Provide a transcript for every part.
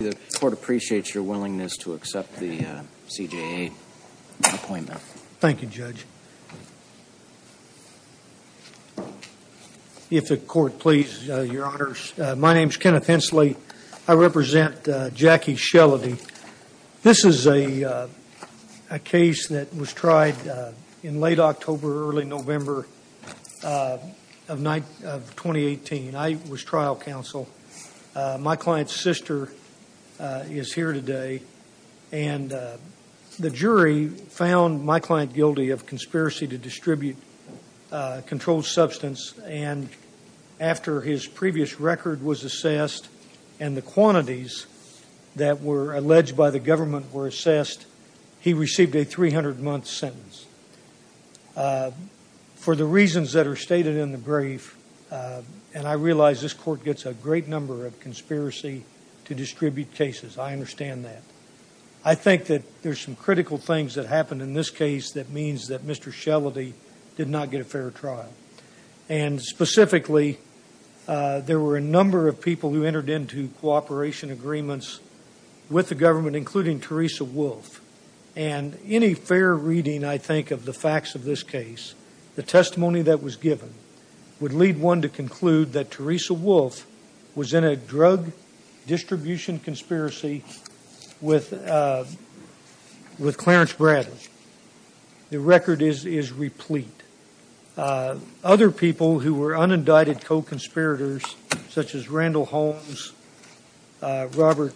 The court appreciates your willingness to accept the CJA appointment. Thank you, Judge. If the court please, your honors, my name is Kenneth Hensley. I represent Jackie Shelledy. This is a case that was tried in late October, early November of 2018. I was trial counsel. My client's sister is here today, and the jury found my client guilty of conspiracy to distribute controlled substance, and after his previous record was assessed and the quantities that were alleged by the government were assessed, he received a 300-month sentence. For the reasons that are stated in the brief, and I realize this court gets a great number of conspiracy to distribute cases, I understand that. I think that there's some critical things that happened in this case that means that Mr. Shelledy did not get a fair trial, and specifically, there were a number of people who entered into cooperation agreements with the government, including Teresa Wolf, and any fair reading, I think, of the facts of this case, the testimony that was given, would lead one to conclude that Teresa Wolf was in a drug distribution conspiracy with Clarence Bradley. The record is replete. Other people who were unindicted co-conspirators, such as Randall Holmes, Robert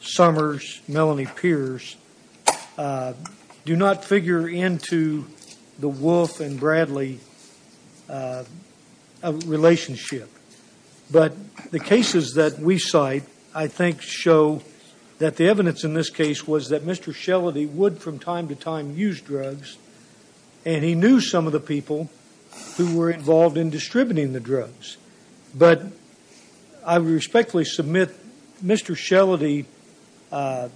Summers, Melanie Pierce, do not figure into the Wolf and Bradley relationship. But the cases that we cite, I think, show that the evidence in this case was that Mr. Shelledy would, from time to time, use drugs, and he knew some of the people who were involved in distributing the drugs. But, I respectfully submit, Mr. Shelledy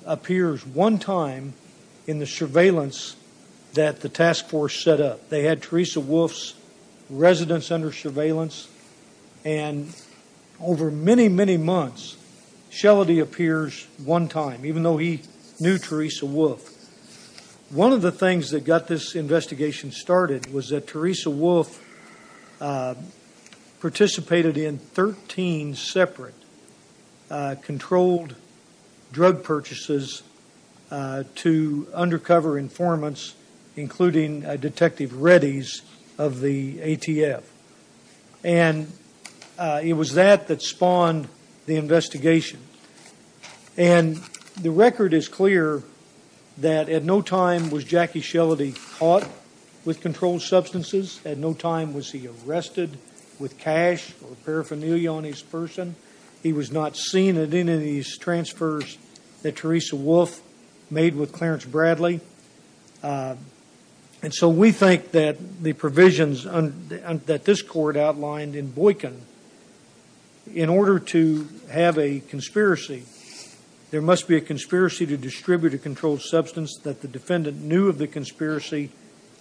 appears one time in the surveillance that the task force set up. They had Teresa Wolf's residence under surveillance, and over many, many months, Shelledy appears one time, even though he knew Teresa Wolf. One of the things that got this investigation started was that Teresa Wolf participated in 13 separate controlled drug purchases to undercover informants, including Detective Reddy's of the ATF. And it was that that spawned the investigation. And the record is clear that at no time was Jackie Shelledy caught with controlled substances. At no time was he arrested with cash or paraphernalia on his person. He was not seen at any of these transfers that Teresa Wolf made with Clarence Bradley. And so we think that the provisions that this court outlined in Boykin, in order to have a conspiracy, there must be a conspiracy to distribute a controlled substance that the defendant knew of the conspiracy,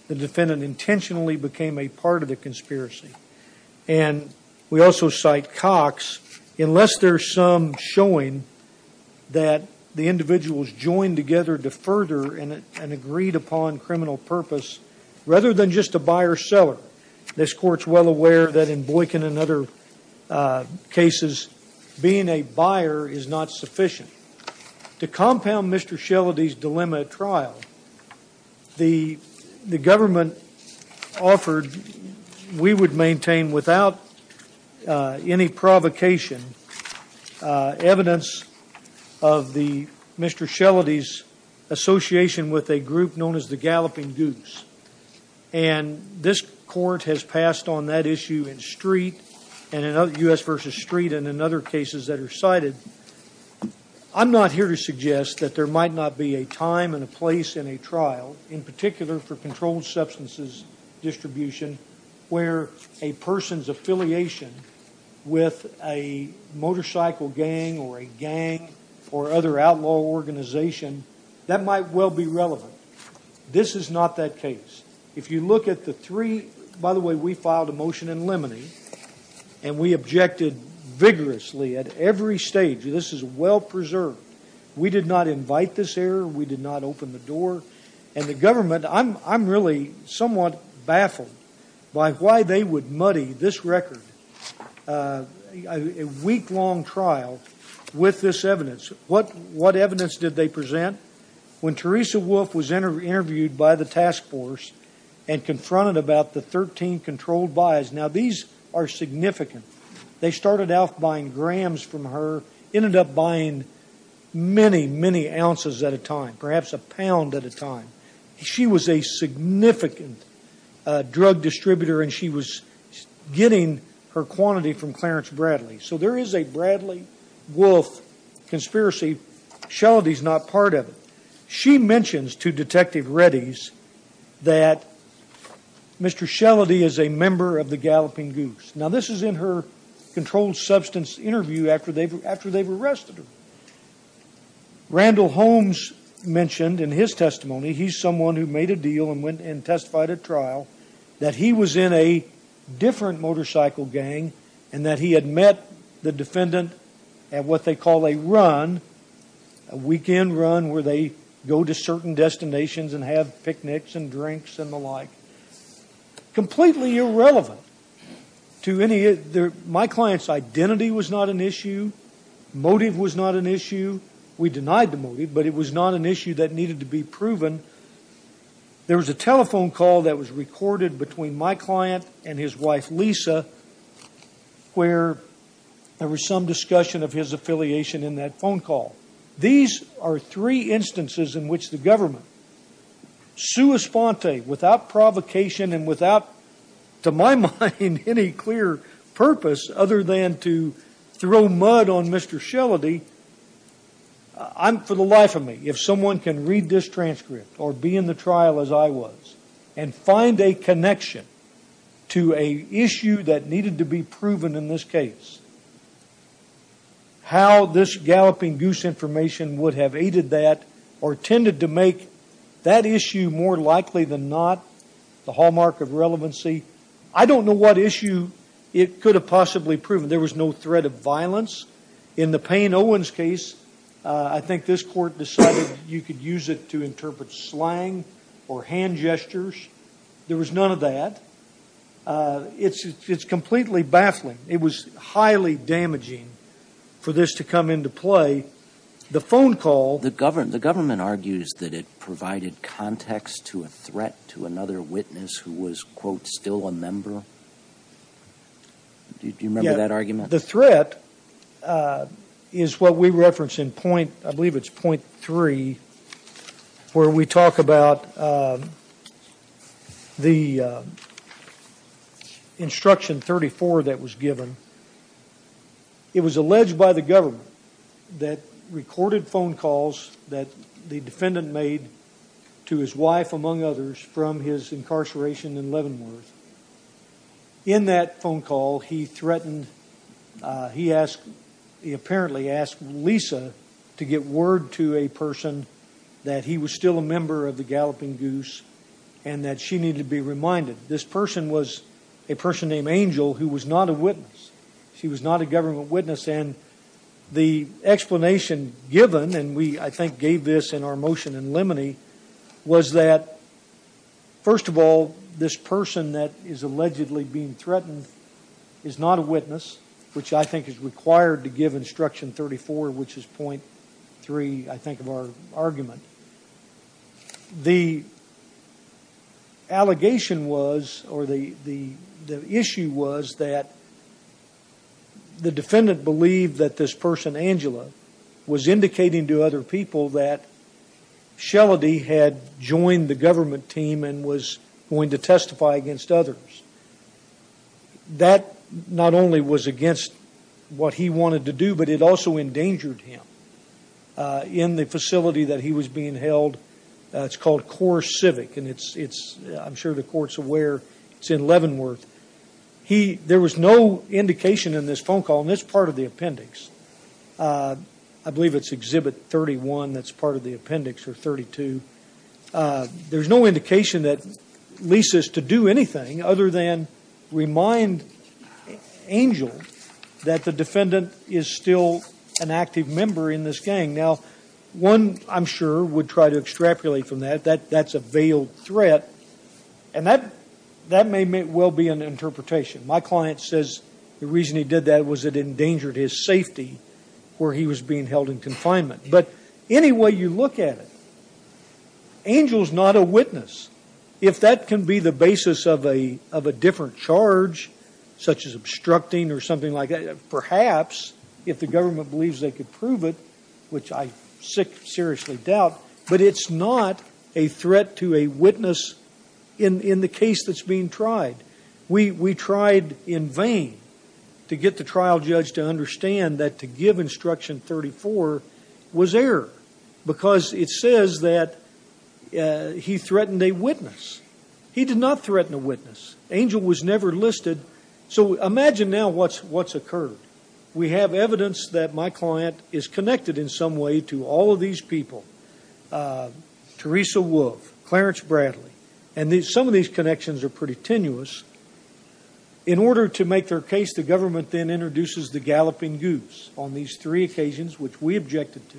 the defendant intentionally became a part of the conspiracy. And we also cite Cox, unless there's some showing that the individuals joined together to further an agreed upon criminal purpose, rather than just a buyer-seller. This court's well aware that in Boykin and other cases, being a buyer is not sufficient. To compound Mr. Shelledy's dilemma at trial, the government offered, we would maintain without any provocation, evidence of Mr. Shelledy's association with a group known as the Galloping Goose. And this court has passed on that issue in Street, and in U.S. v. Street, and in other cases that are cited. I'm not here to suggest that there might not be a time and a place in a trial, in particular for controlled substances distribution, where a person's affiliation with a motorcycle gang or a gang or other outlaw organization, that might well be relevant. This is not that case. If you look at the three, by the way, we filed a motion in limine, and we objected vigorously at every stage. This is well preserved. We did not invite this error. We did not open the door. And the government, I'm really somewhat baffled by why they would muddy this record, a week-long trial with this evidence. What evidence did they present? When Teresa Wolf was interviewed by the task force and confronted about the 13 controlled buys, now these are significant. They started off buying grams from her, ended up buying many, many ounces at a time, perhaps a pound at a time. She was a significant drug distributor, and she was getting her quantity from Clarence Bradley. So there is a Bradley-Wolf conspiracy. Shellady's not part of it. She mentions to Detective Reddy's that Mr. Shellady is a member of the Galloping Goose. Now this is in her controlled substance interview after they've arrested her. Randall Holmes mentioned in his testimony, he's someone who made a deal and went and testified at trial, that he was in a different motorcycle gang and that he had met the defendant at what they call a run, a weekend run where they go to certain destinations and have picnics and drinks and the like. Completely irrelevant to any of their, my client's identity was not an issue, motive was not an issue. We denied the motive, but it was not an issue that needed to be proven. There was a telephone call that was recorded between my client and his wife, Lisa, where there was some discussion of his affiliation in that phone call. These are three instances in which the government, sua sponte, without provocation and without to my mind any clear purpose other than to throw mud on Mr. Shellady, I'm, for the life of me, if someone can read this transcript or be in the trial as I was and find a connection to an issue that needed to be proven in this case, how this galloping goose information would have aided that or tended to make that issue more likely than not the hallmark of relevancy, I don't know what issue it could have possibly proven. There was no threat of violence. In the Payne Owens case, I think this court decided you could use it to interpret slang or hand gestures. There was none of that. It's completely baffling. It was highly damaging for this to come into play. The phone call- The government argues that it provided context to a threat to another witness who was, quote, still a member. Do you remember that argument? The threat is what we reference in point, I believe it's point three, where we talk about the instruction 34 that was given. It was alleged by the government that recorded phone calls that the defendant made to his wife among others from his incarceration in Leavenworth. In that phone call, he threatened, he apparently asked Lisa to get word to a person that he was still a member of the galloping goose and that she needed to be reminded. This person was a person named Angel who was not a witness. She was not a government witness and the explanation given, and we, I think, gave this in our motion in Lemony, was that, first of all, this person that is allegedly being threatened is not a witness, which I think is required to give instruction 34, which is point three, I think, of our argument. The allegation was, or the issue was, that the defendant believed that this person, Angela, was indicating to other people that Shelledy had joined the government team and was going to testify against others. That not only was against what he wanted to do, but it also endangered him. In the facility that he was being held, it's called Core Civic, and it's, I'm sure the court's aware, it's in Leavenworth. There was no indication in this phone call, and it's part of the appendix, I believe it's exhibit 31 that's part of the appendix, or 32. There's no indication that Lisa's to do anything other than remind Angel that the defendant is still an active member in this gang. Now, one, I'm sure, would try to extrapolate from that, that that's a veiled threat, and that may well be an interpretation. My client says the reason he did that was it endangered his safety where he was being held in confinement. But any way you look at it, Angel's not a witness. If that can be the basis of a different charge, such as obstructing or something like that, perhaps if the government believes they could prove it, which I seriously doubt, but it's not a threat to a witness in the case that's being tried. We tried in vain to get the trial judge to understand that to give instruction 34 was error, because it says that he threatened a witness. He did not threaten a witness. Angel was never listed. So imagine now what's occurred. We have evidence that my client is connected in some way to all of these people, Teresa Wolfe, Clarence Bradley, and some of these connections are pretty tenuous. In order to make their case, the government then introduces the galloping goose on these three occasions, which we objected to.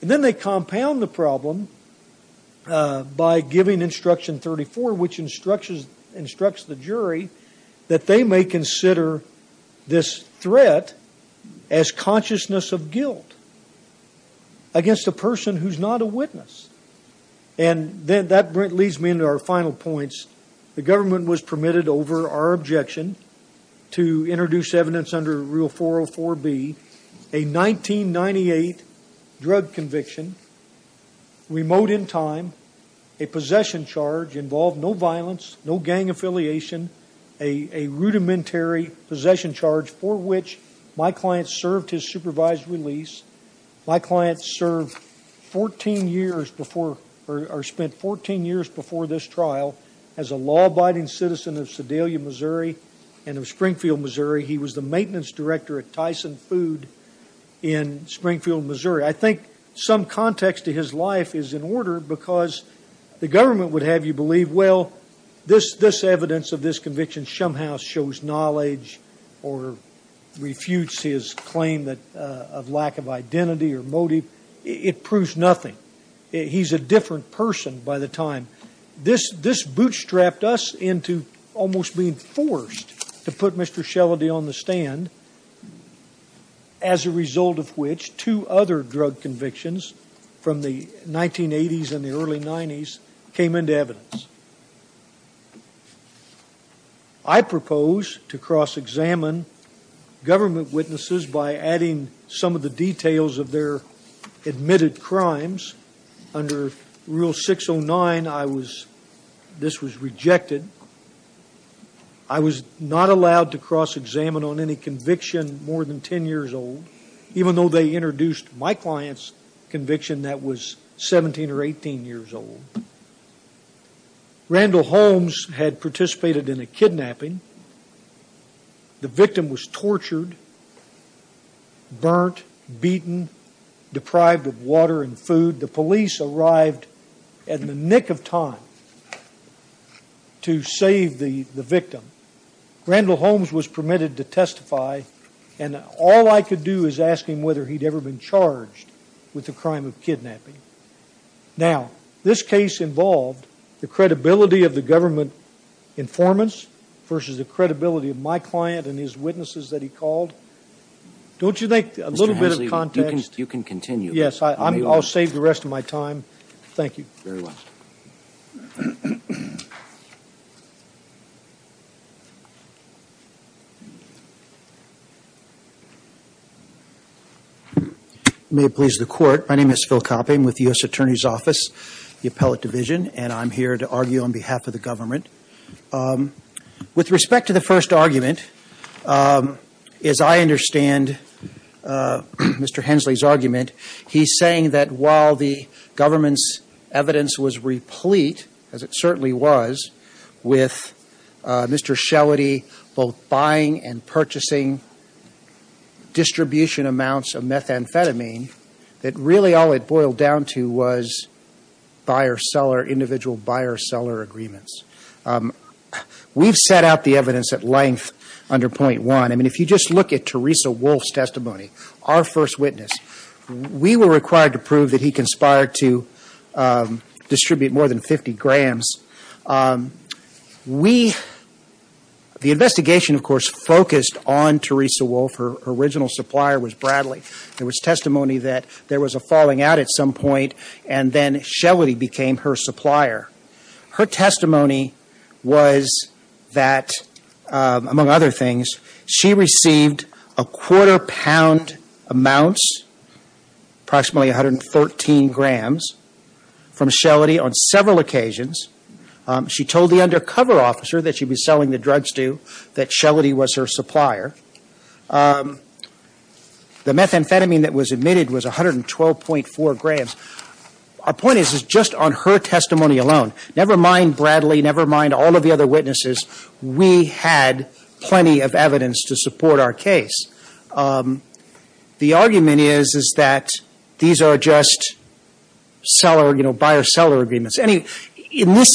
And then they compound the problem by giving instruction 34, which instructs the jury that they may consider this threat as consciousness of guilt against a person who's not a witness. And that leads me into our final points. The government was permitted over our objection to introduce evidence under Rule 404B, a 1998 drug conviction, remote in time, a possession charge involved no violence, no gang affiliation, a rudimentary possession charge for which my client served his supervised release. My client served 14 years before, or spent 14 years before this trial as a law-abiding citizen of Sedalia, Missouri, and of Springfield, Missouri. He was the maintenance director at Tyson Food in Springfield, Missouri. I think some context to his life is in order, because the government would have you believe, well, this evidence of this conviction somehow shows knowledge or refutes his claim of lack of identity or motive. It proves nothing. He's a different person by the time. This bootstrapped us into almost being forced to put Mr. Shelledy on the stand, as a result of which two other drug convictions from the 1980s and the early 90s came into evidence. I propose to cross-examine government witnesses by adding some of the details of their admitted crimes. Under Rule 609, this was rejected. I was not allowed to cross-examine on any conviction more than 10 years old, even though they introduced my client's conviction that was 17 or 18 years old. Randall Holmes had participated in a kidnapping. The victim was tortured, burnt, beaten, deprived of water and food. The police arrived at the nick of time to save the victim. Randall Holmes was permitted to testify, and all I could do is ask him whether he'd ever been charged with the crime of kidnapping. Now, this case involved the credibility of the government informants versus the credibility of my client and his witnesses that he called. Don't you think a little bit of context? You can continue. Yes, I'll save the rest of my time. Thank you. Very well. May it please the Court, my name is Phil Copping with the U.S. Attorney's Office, the Appellate Division, and I'm here to argue on behalf of the government. With respect to the first argument, as I understand Mr. Hensley's argument, he's saying that while the government's evidence was replete, as it certainly was, with Mr. Shellady both buying and purchasing distribution amounts of methamphetamine, that really all it boiled down to was individual buyer-seller agreements. We've set out the evidence at length under point one. I mean, if you just look at Teresa Wolfe's testimony, our first witness, we were required to prove that he conspired to distribute more than 50 grams. The investigation, of course, focused on Teresa Wolfe. Her original supplier was Bradley. There was testimony that there was a falling out at some point, and then Shellady became her supplier. Her testimony was that, among other things, she received a quarter pound amounts, approximately 113 grams, from Shellady on several occasions. She told the undercover officer that she'd be selling the drugs to, that Shellady was her supplier. The methamphetamine that was emitted was 112.4 grams. Our point is, is just on her testimony alone, never mind Bradley, never mind all of the other witnesses, we had plenty of evidence to support our case. The argument is, is that these are just seller, you know, buyer-seller agreements. In this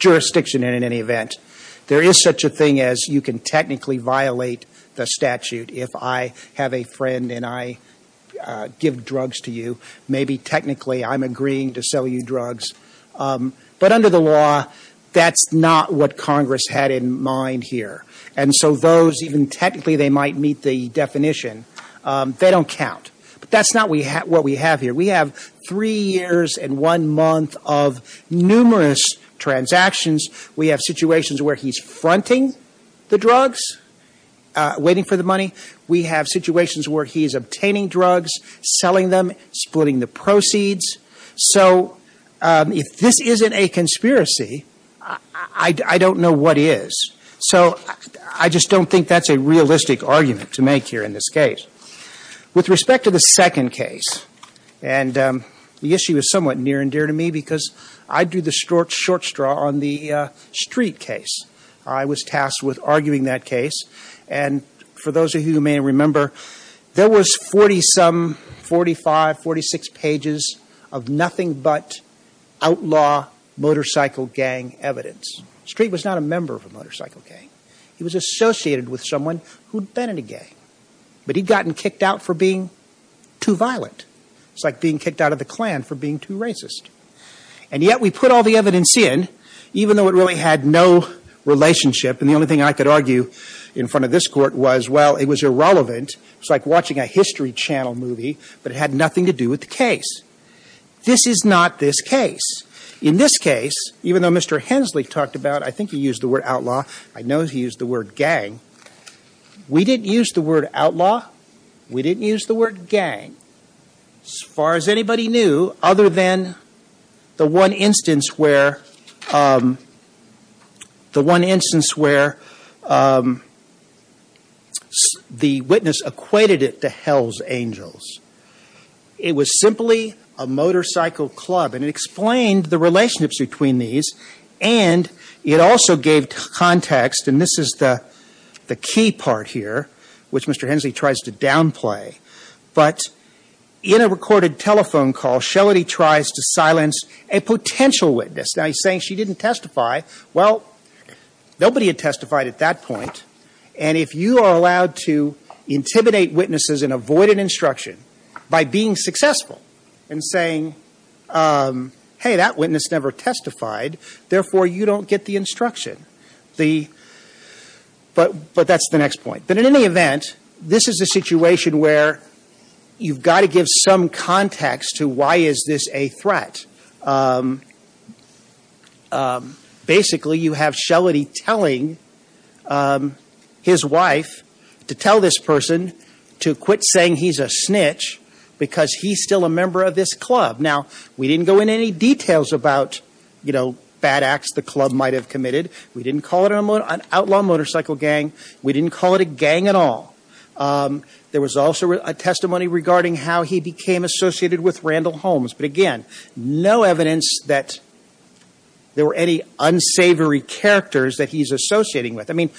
jurisdiction, in any event, there is such a thing as you can technically violate the statute if I have a friend and I give drugs to you, maybe technically I'm agreeing to sell you drugs. But under the law, that's not what Congress had in mind here. And so those, even technically they might meet the definition, they don't count. But that's not what we have here. We have three years and one month of numerous transactions. We have situations where he's fronting the drugs, waiting for the money. We have situations where he's obtaining drugs, selling them, splitting the proceeds. So if this isn't a conspiracy, I don't know what is. So I just don't think that's a realistic argument to make here in this case. With respect to the second case, and the issue is somewhat near and dear to me because I do the short straw on the Street case. I was tasked with arguing that case. And for those of you who may remember, there was 40-some, 45, 46 pages of nothing but outlaw motorcycle gang evidence. Street was not a member of a motorcycle gang. He was associated with someone who'd been in a gang. But he'd gotten kicked out for being too violent. It's like being kicked out of the Klan for being too racist. And yet we put all the evidence in, even though it really had no relationship. And the only thing I could argue in front of this court was, well, it was irrelevant. It's like watching a History Channel movie, but it had nothing to do with the case. This is not this case. In this case, even though Mr. Hensley talked about, I think he used the word outlaw. I know he used the word gang. We didn't use the word outlaw. We didn't use the word gang. As far as anybody knew, other than the one instance where the witness equated it to Hell's Angels. It was simply a motorcycle club, and it explained the relationships between these. And it also gave context, and this is the key part here, which Mr. Hensley tries to downplay. But in a recorded telephone call, Shelley tries to silence a potential witness. Now he's saying she didn't testify. Well, nobody had testified at that point. And if you are allowed to intimidate witnesses and avoid an instruction by being successful and saying, hey, that witness never testified, therefore you don't get the instruction. But that's the next point. But in any event, this is a situation where you've got to give some context to why is this a threat. Basically, you have Shelley telling his wife to tell this person to quit saying he's a snitch because he's still a member of this club. Now, we didn't go into any details about bad acts the club might have committed. We didn't call it an outlaw motorcycle gang. We didn't call it a gang at all. There was also a testimony regarding how he became associated with Randall Holmes. But again, no evidence that there were any unsavory characters that he's associating with. I mean,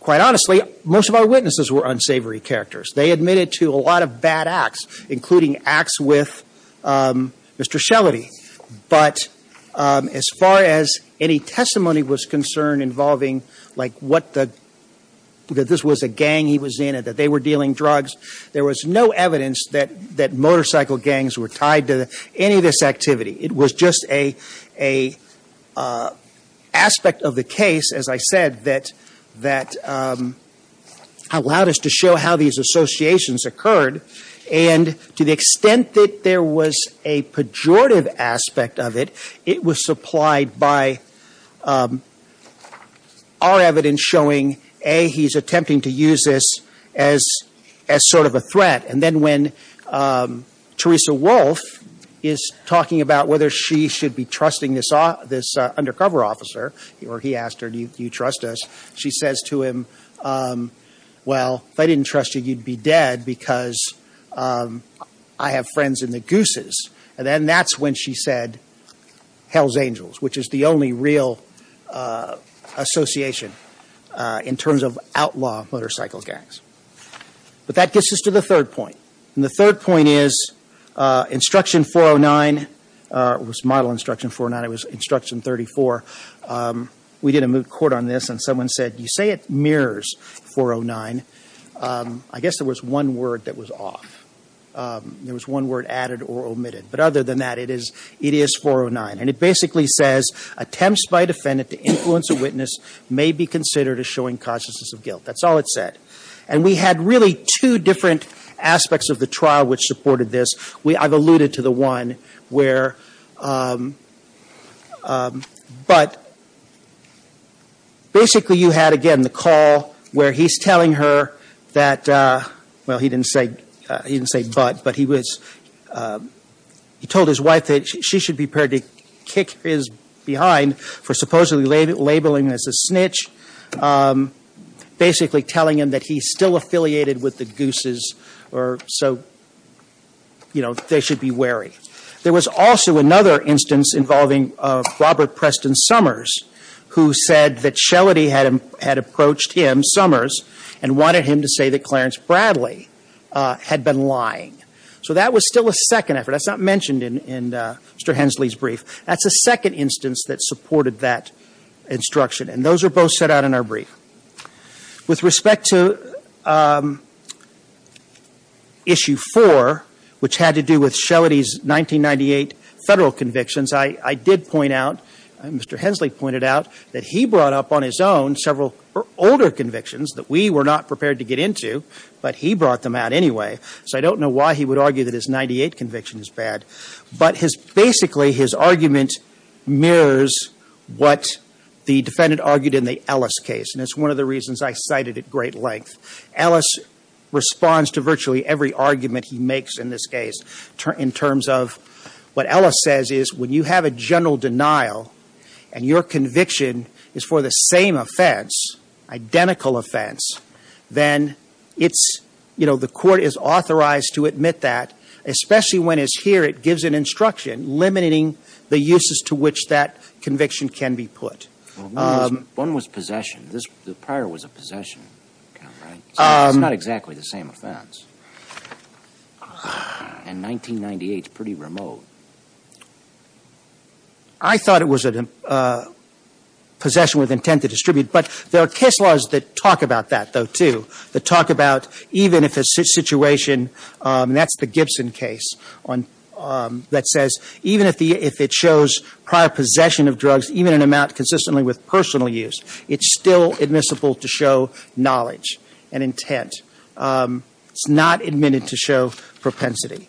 quite honestly, most of our witnesses were unsavory characters. They admitted to a lot of bad acts, including acts with Mr. Shelley. But as far as any testimony was concerned involving, like what the, that this was a gang he was in and that they were dealing drugs, there was no evidence that motorcycle gangs were tied to any of this activity. It was just a aspect of the case, as I said, that allowed us to show how these associations occurred. And to the extent that there was a pejorative aspect of it, it was supplied by our evidence showing, A, he's attempting to use this as sort of a threat. And then when Teresa Wolfe is talking about whether she should be trusting this undercover officer, or he asked her, do you trust us? She says to him, well, if I didn't trust you, you'd be dead because I have friends in the Gooses. And then that's when she said Hell's Angels, which is the only real association in terms of outlaw motorcycle gangs. But that gets us to the third point. And the third point is instruction 409, it was model instruction 409, it was instruction 34. We did a moot court on this, and someone said, you say it mirrors 409. I guess there was one word that was off. There was one word added or omitted. But other than that, it is 409. And it basically says, attempts by a defendant to influence a witness may be considered as showing consciousness of guilt. That's all it said. And we had really two different aspects of the trial which supported this. I've alluded to the one where, but basically you had again the call where he's telling her that, well, he didn't say but. But he told his wife that she should be prepared to kick his behind for supposedly labeling him as a snitch, basically telling him that he's still affiliated with the Gooses, or so they should be wary. There was also another instance involving Robert Preston Summers, who said that Shellady had approached him, Summers, and wanted him to say that Clarence Bradley had been lying. So that was still a second effort. That's not mentioned in Mr. Hensley's brief. That's a second instance that supported that instruction. And those are both set out in our brief. With respect to issue four, which had to do with Shellady's 1998 federal convictions, I did point out, Mr. Hensley pointed out, that he brought up on his own several older convictions that we were not prepared to get into, but he brought them out anyway. So I don't know why he would argue that his 98 conviction is bad. But basically his argument mirrors what the defendant argued in the Ellis case. And it's one of the reasons I cited at great length. Ellis responds to virtually every argument he makes in this case in terms of what Ellis says is when you have a general denial and your conviction is for the same offense, identical offense, then it's, the court is authorized to admit that, especially when it's here, it gives an instruction limiting the uses to which that conviction can be put. One was possession. The prior was a possession, right? It's not exactly the same offense. In 1998, it's pretty remote. I thought it was a possession with intent to distribute. But there are case laws that talk about that, though, too, that talk about even if a situation, and that's the Gibson case that says, even if it shows prior possession of drugs, even in amount consistently with personal use, it's still admissible to show knowledge and intent. It's not admitted to show propensity.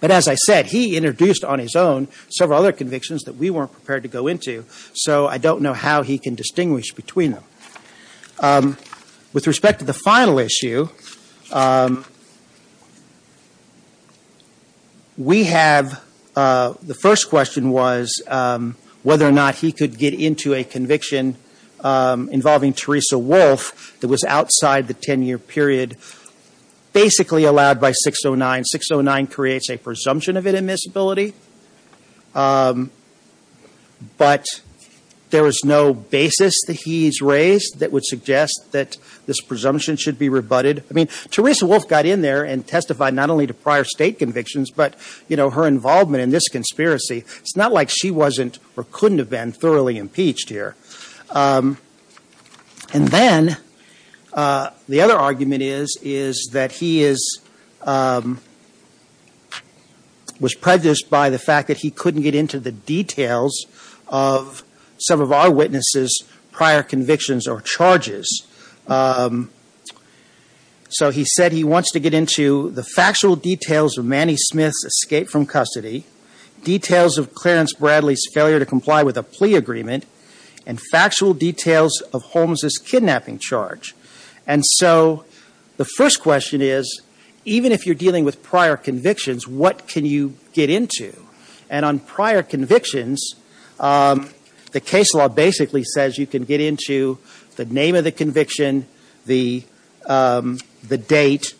But as I said, he introduced on his own several other convictions that we weren't prepared to go into, so I don't know how he can distinguish between them. With respect to the final issue, we have, the first question was whether or not he could get into a conviction involving Teresa Wolfe that was outside the 10-year period, basically allowed by 609. 609 creates a presumption of inadmissibility, but there is no basis that he's raised that would suggest that this presumption should be rebutted. I mean, Teresa Wolfe got in there and testified not only to prior state convictions, but her involvement in this conspiracy, it's not like she wasn't or couldn't have been thoroughly impeached here. And then the other argument is that he was prejudiced by the fact that he couldn't get into the details of some of our witnesses' prior convictions or charges. So he said he wants to get into the factual details of Manny Smith's escape from custody, details of Clarence Bradley's failure to comply with a plea agreement, and factual details of Holmes' kidnapping charge. And so the first question is, even if you're dealing with prior convictions, what can you get into? And on prior convictions, the case law basically says you can get into the name of the conviction, the date,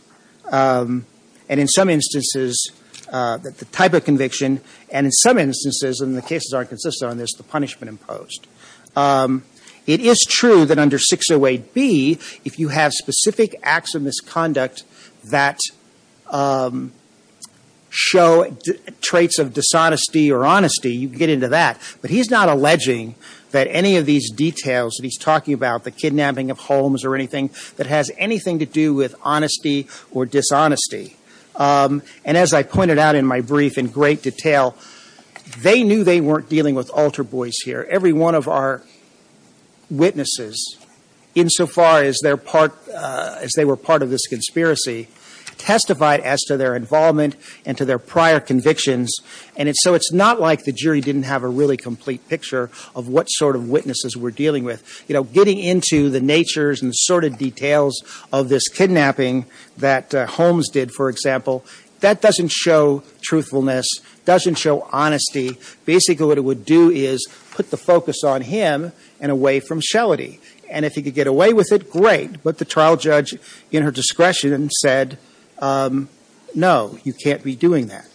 and in some instances, the type of conviction, and in some instances, and the cases aren't consistent on this, the punishment imposed. It is true that under 608B, if you have specific acts of misconduct that show traits of dishonesty or honesty, you can get into that. But he's not alleging that any of these details that he's talking about, the kidnapping of Holmes or anything, that has anything to do with honesty or dishonesty. And as I pointed out in my brief in great detail, they knew they weren't dealing with altar boys here. Every one of our witnesses, insofar as they were part of this conspiracy, testified as to their involvement and to their prior convictions. And so it's not like the jury didn't have a really complete picture of what sort of witnesses we're dealing with. Getting into the natures and sorted details of this kidnapping that Holmes did, for example, that doesn't show truthfulness, doesn't show honesty. Basically, what it would do is put the focus on him and away from Shelley. And if he could get away with it, great, but the trial judge, in her discretion, said no, you can't be doing that.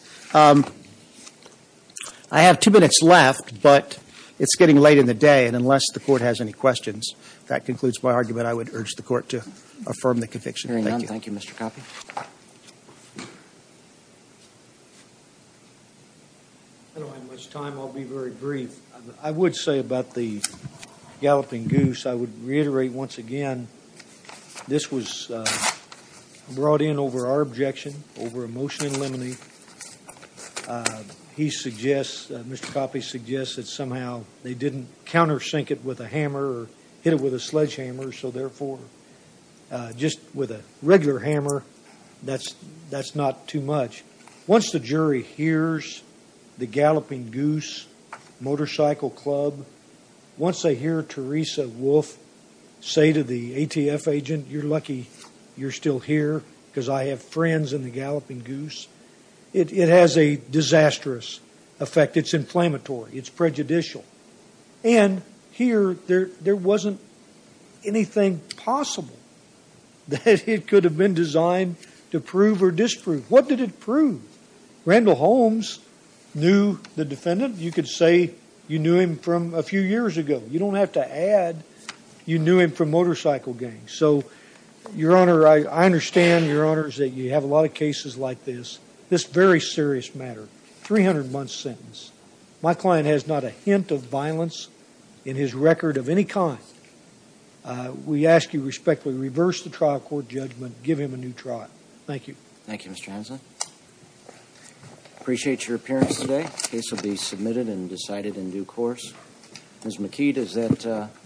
I have two minutes left, but it's getting late in the day. And unless the court has any questions, that concludes my argument. I would urge the court to affirm the conviction. Thank you. Hearing none, thank you, Mr. Coffey. I don't have much time. I'll be very brief. I would say about the galloping goose, I would reiterate once again, this was brought in over our objection, over a motion in limine. He suggests, Mr. Coffey suggests that somehow they didn't countersink it with a hammer or hit it with a sledgehammer, so therefore, just with a regular hammer, that's not too much. Once the jury hears the galloping goose motorcycle club, once they hear Teresa Wolf say to the ATF agent, you're lucky you're still here because I have friends in the galloping goose. It has a disastrous effect, it's inflammatory, it's prejudicial. And here, there wasn't anything possible that it could have been designed to prove or disprove. What did it prove? Randall Holmes knew the defendant. You could say you knew him from a few years ago. You don't have to add, you knew him from motorcycle gang. So, your honor, I understand, your honors, that you have a lot of cases like this. This very serious matter, 300 month sentence. My client has not a hint of violence in his record of any kind. We ask you respectfully, reverse the trial court judgment, give him a new trial. Thank you. Thank you, Mr. Hanson. Appreciate your appearance today. Case will be submitted and decided in due course. Ms. McKee, does that-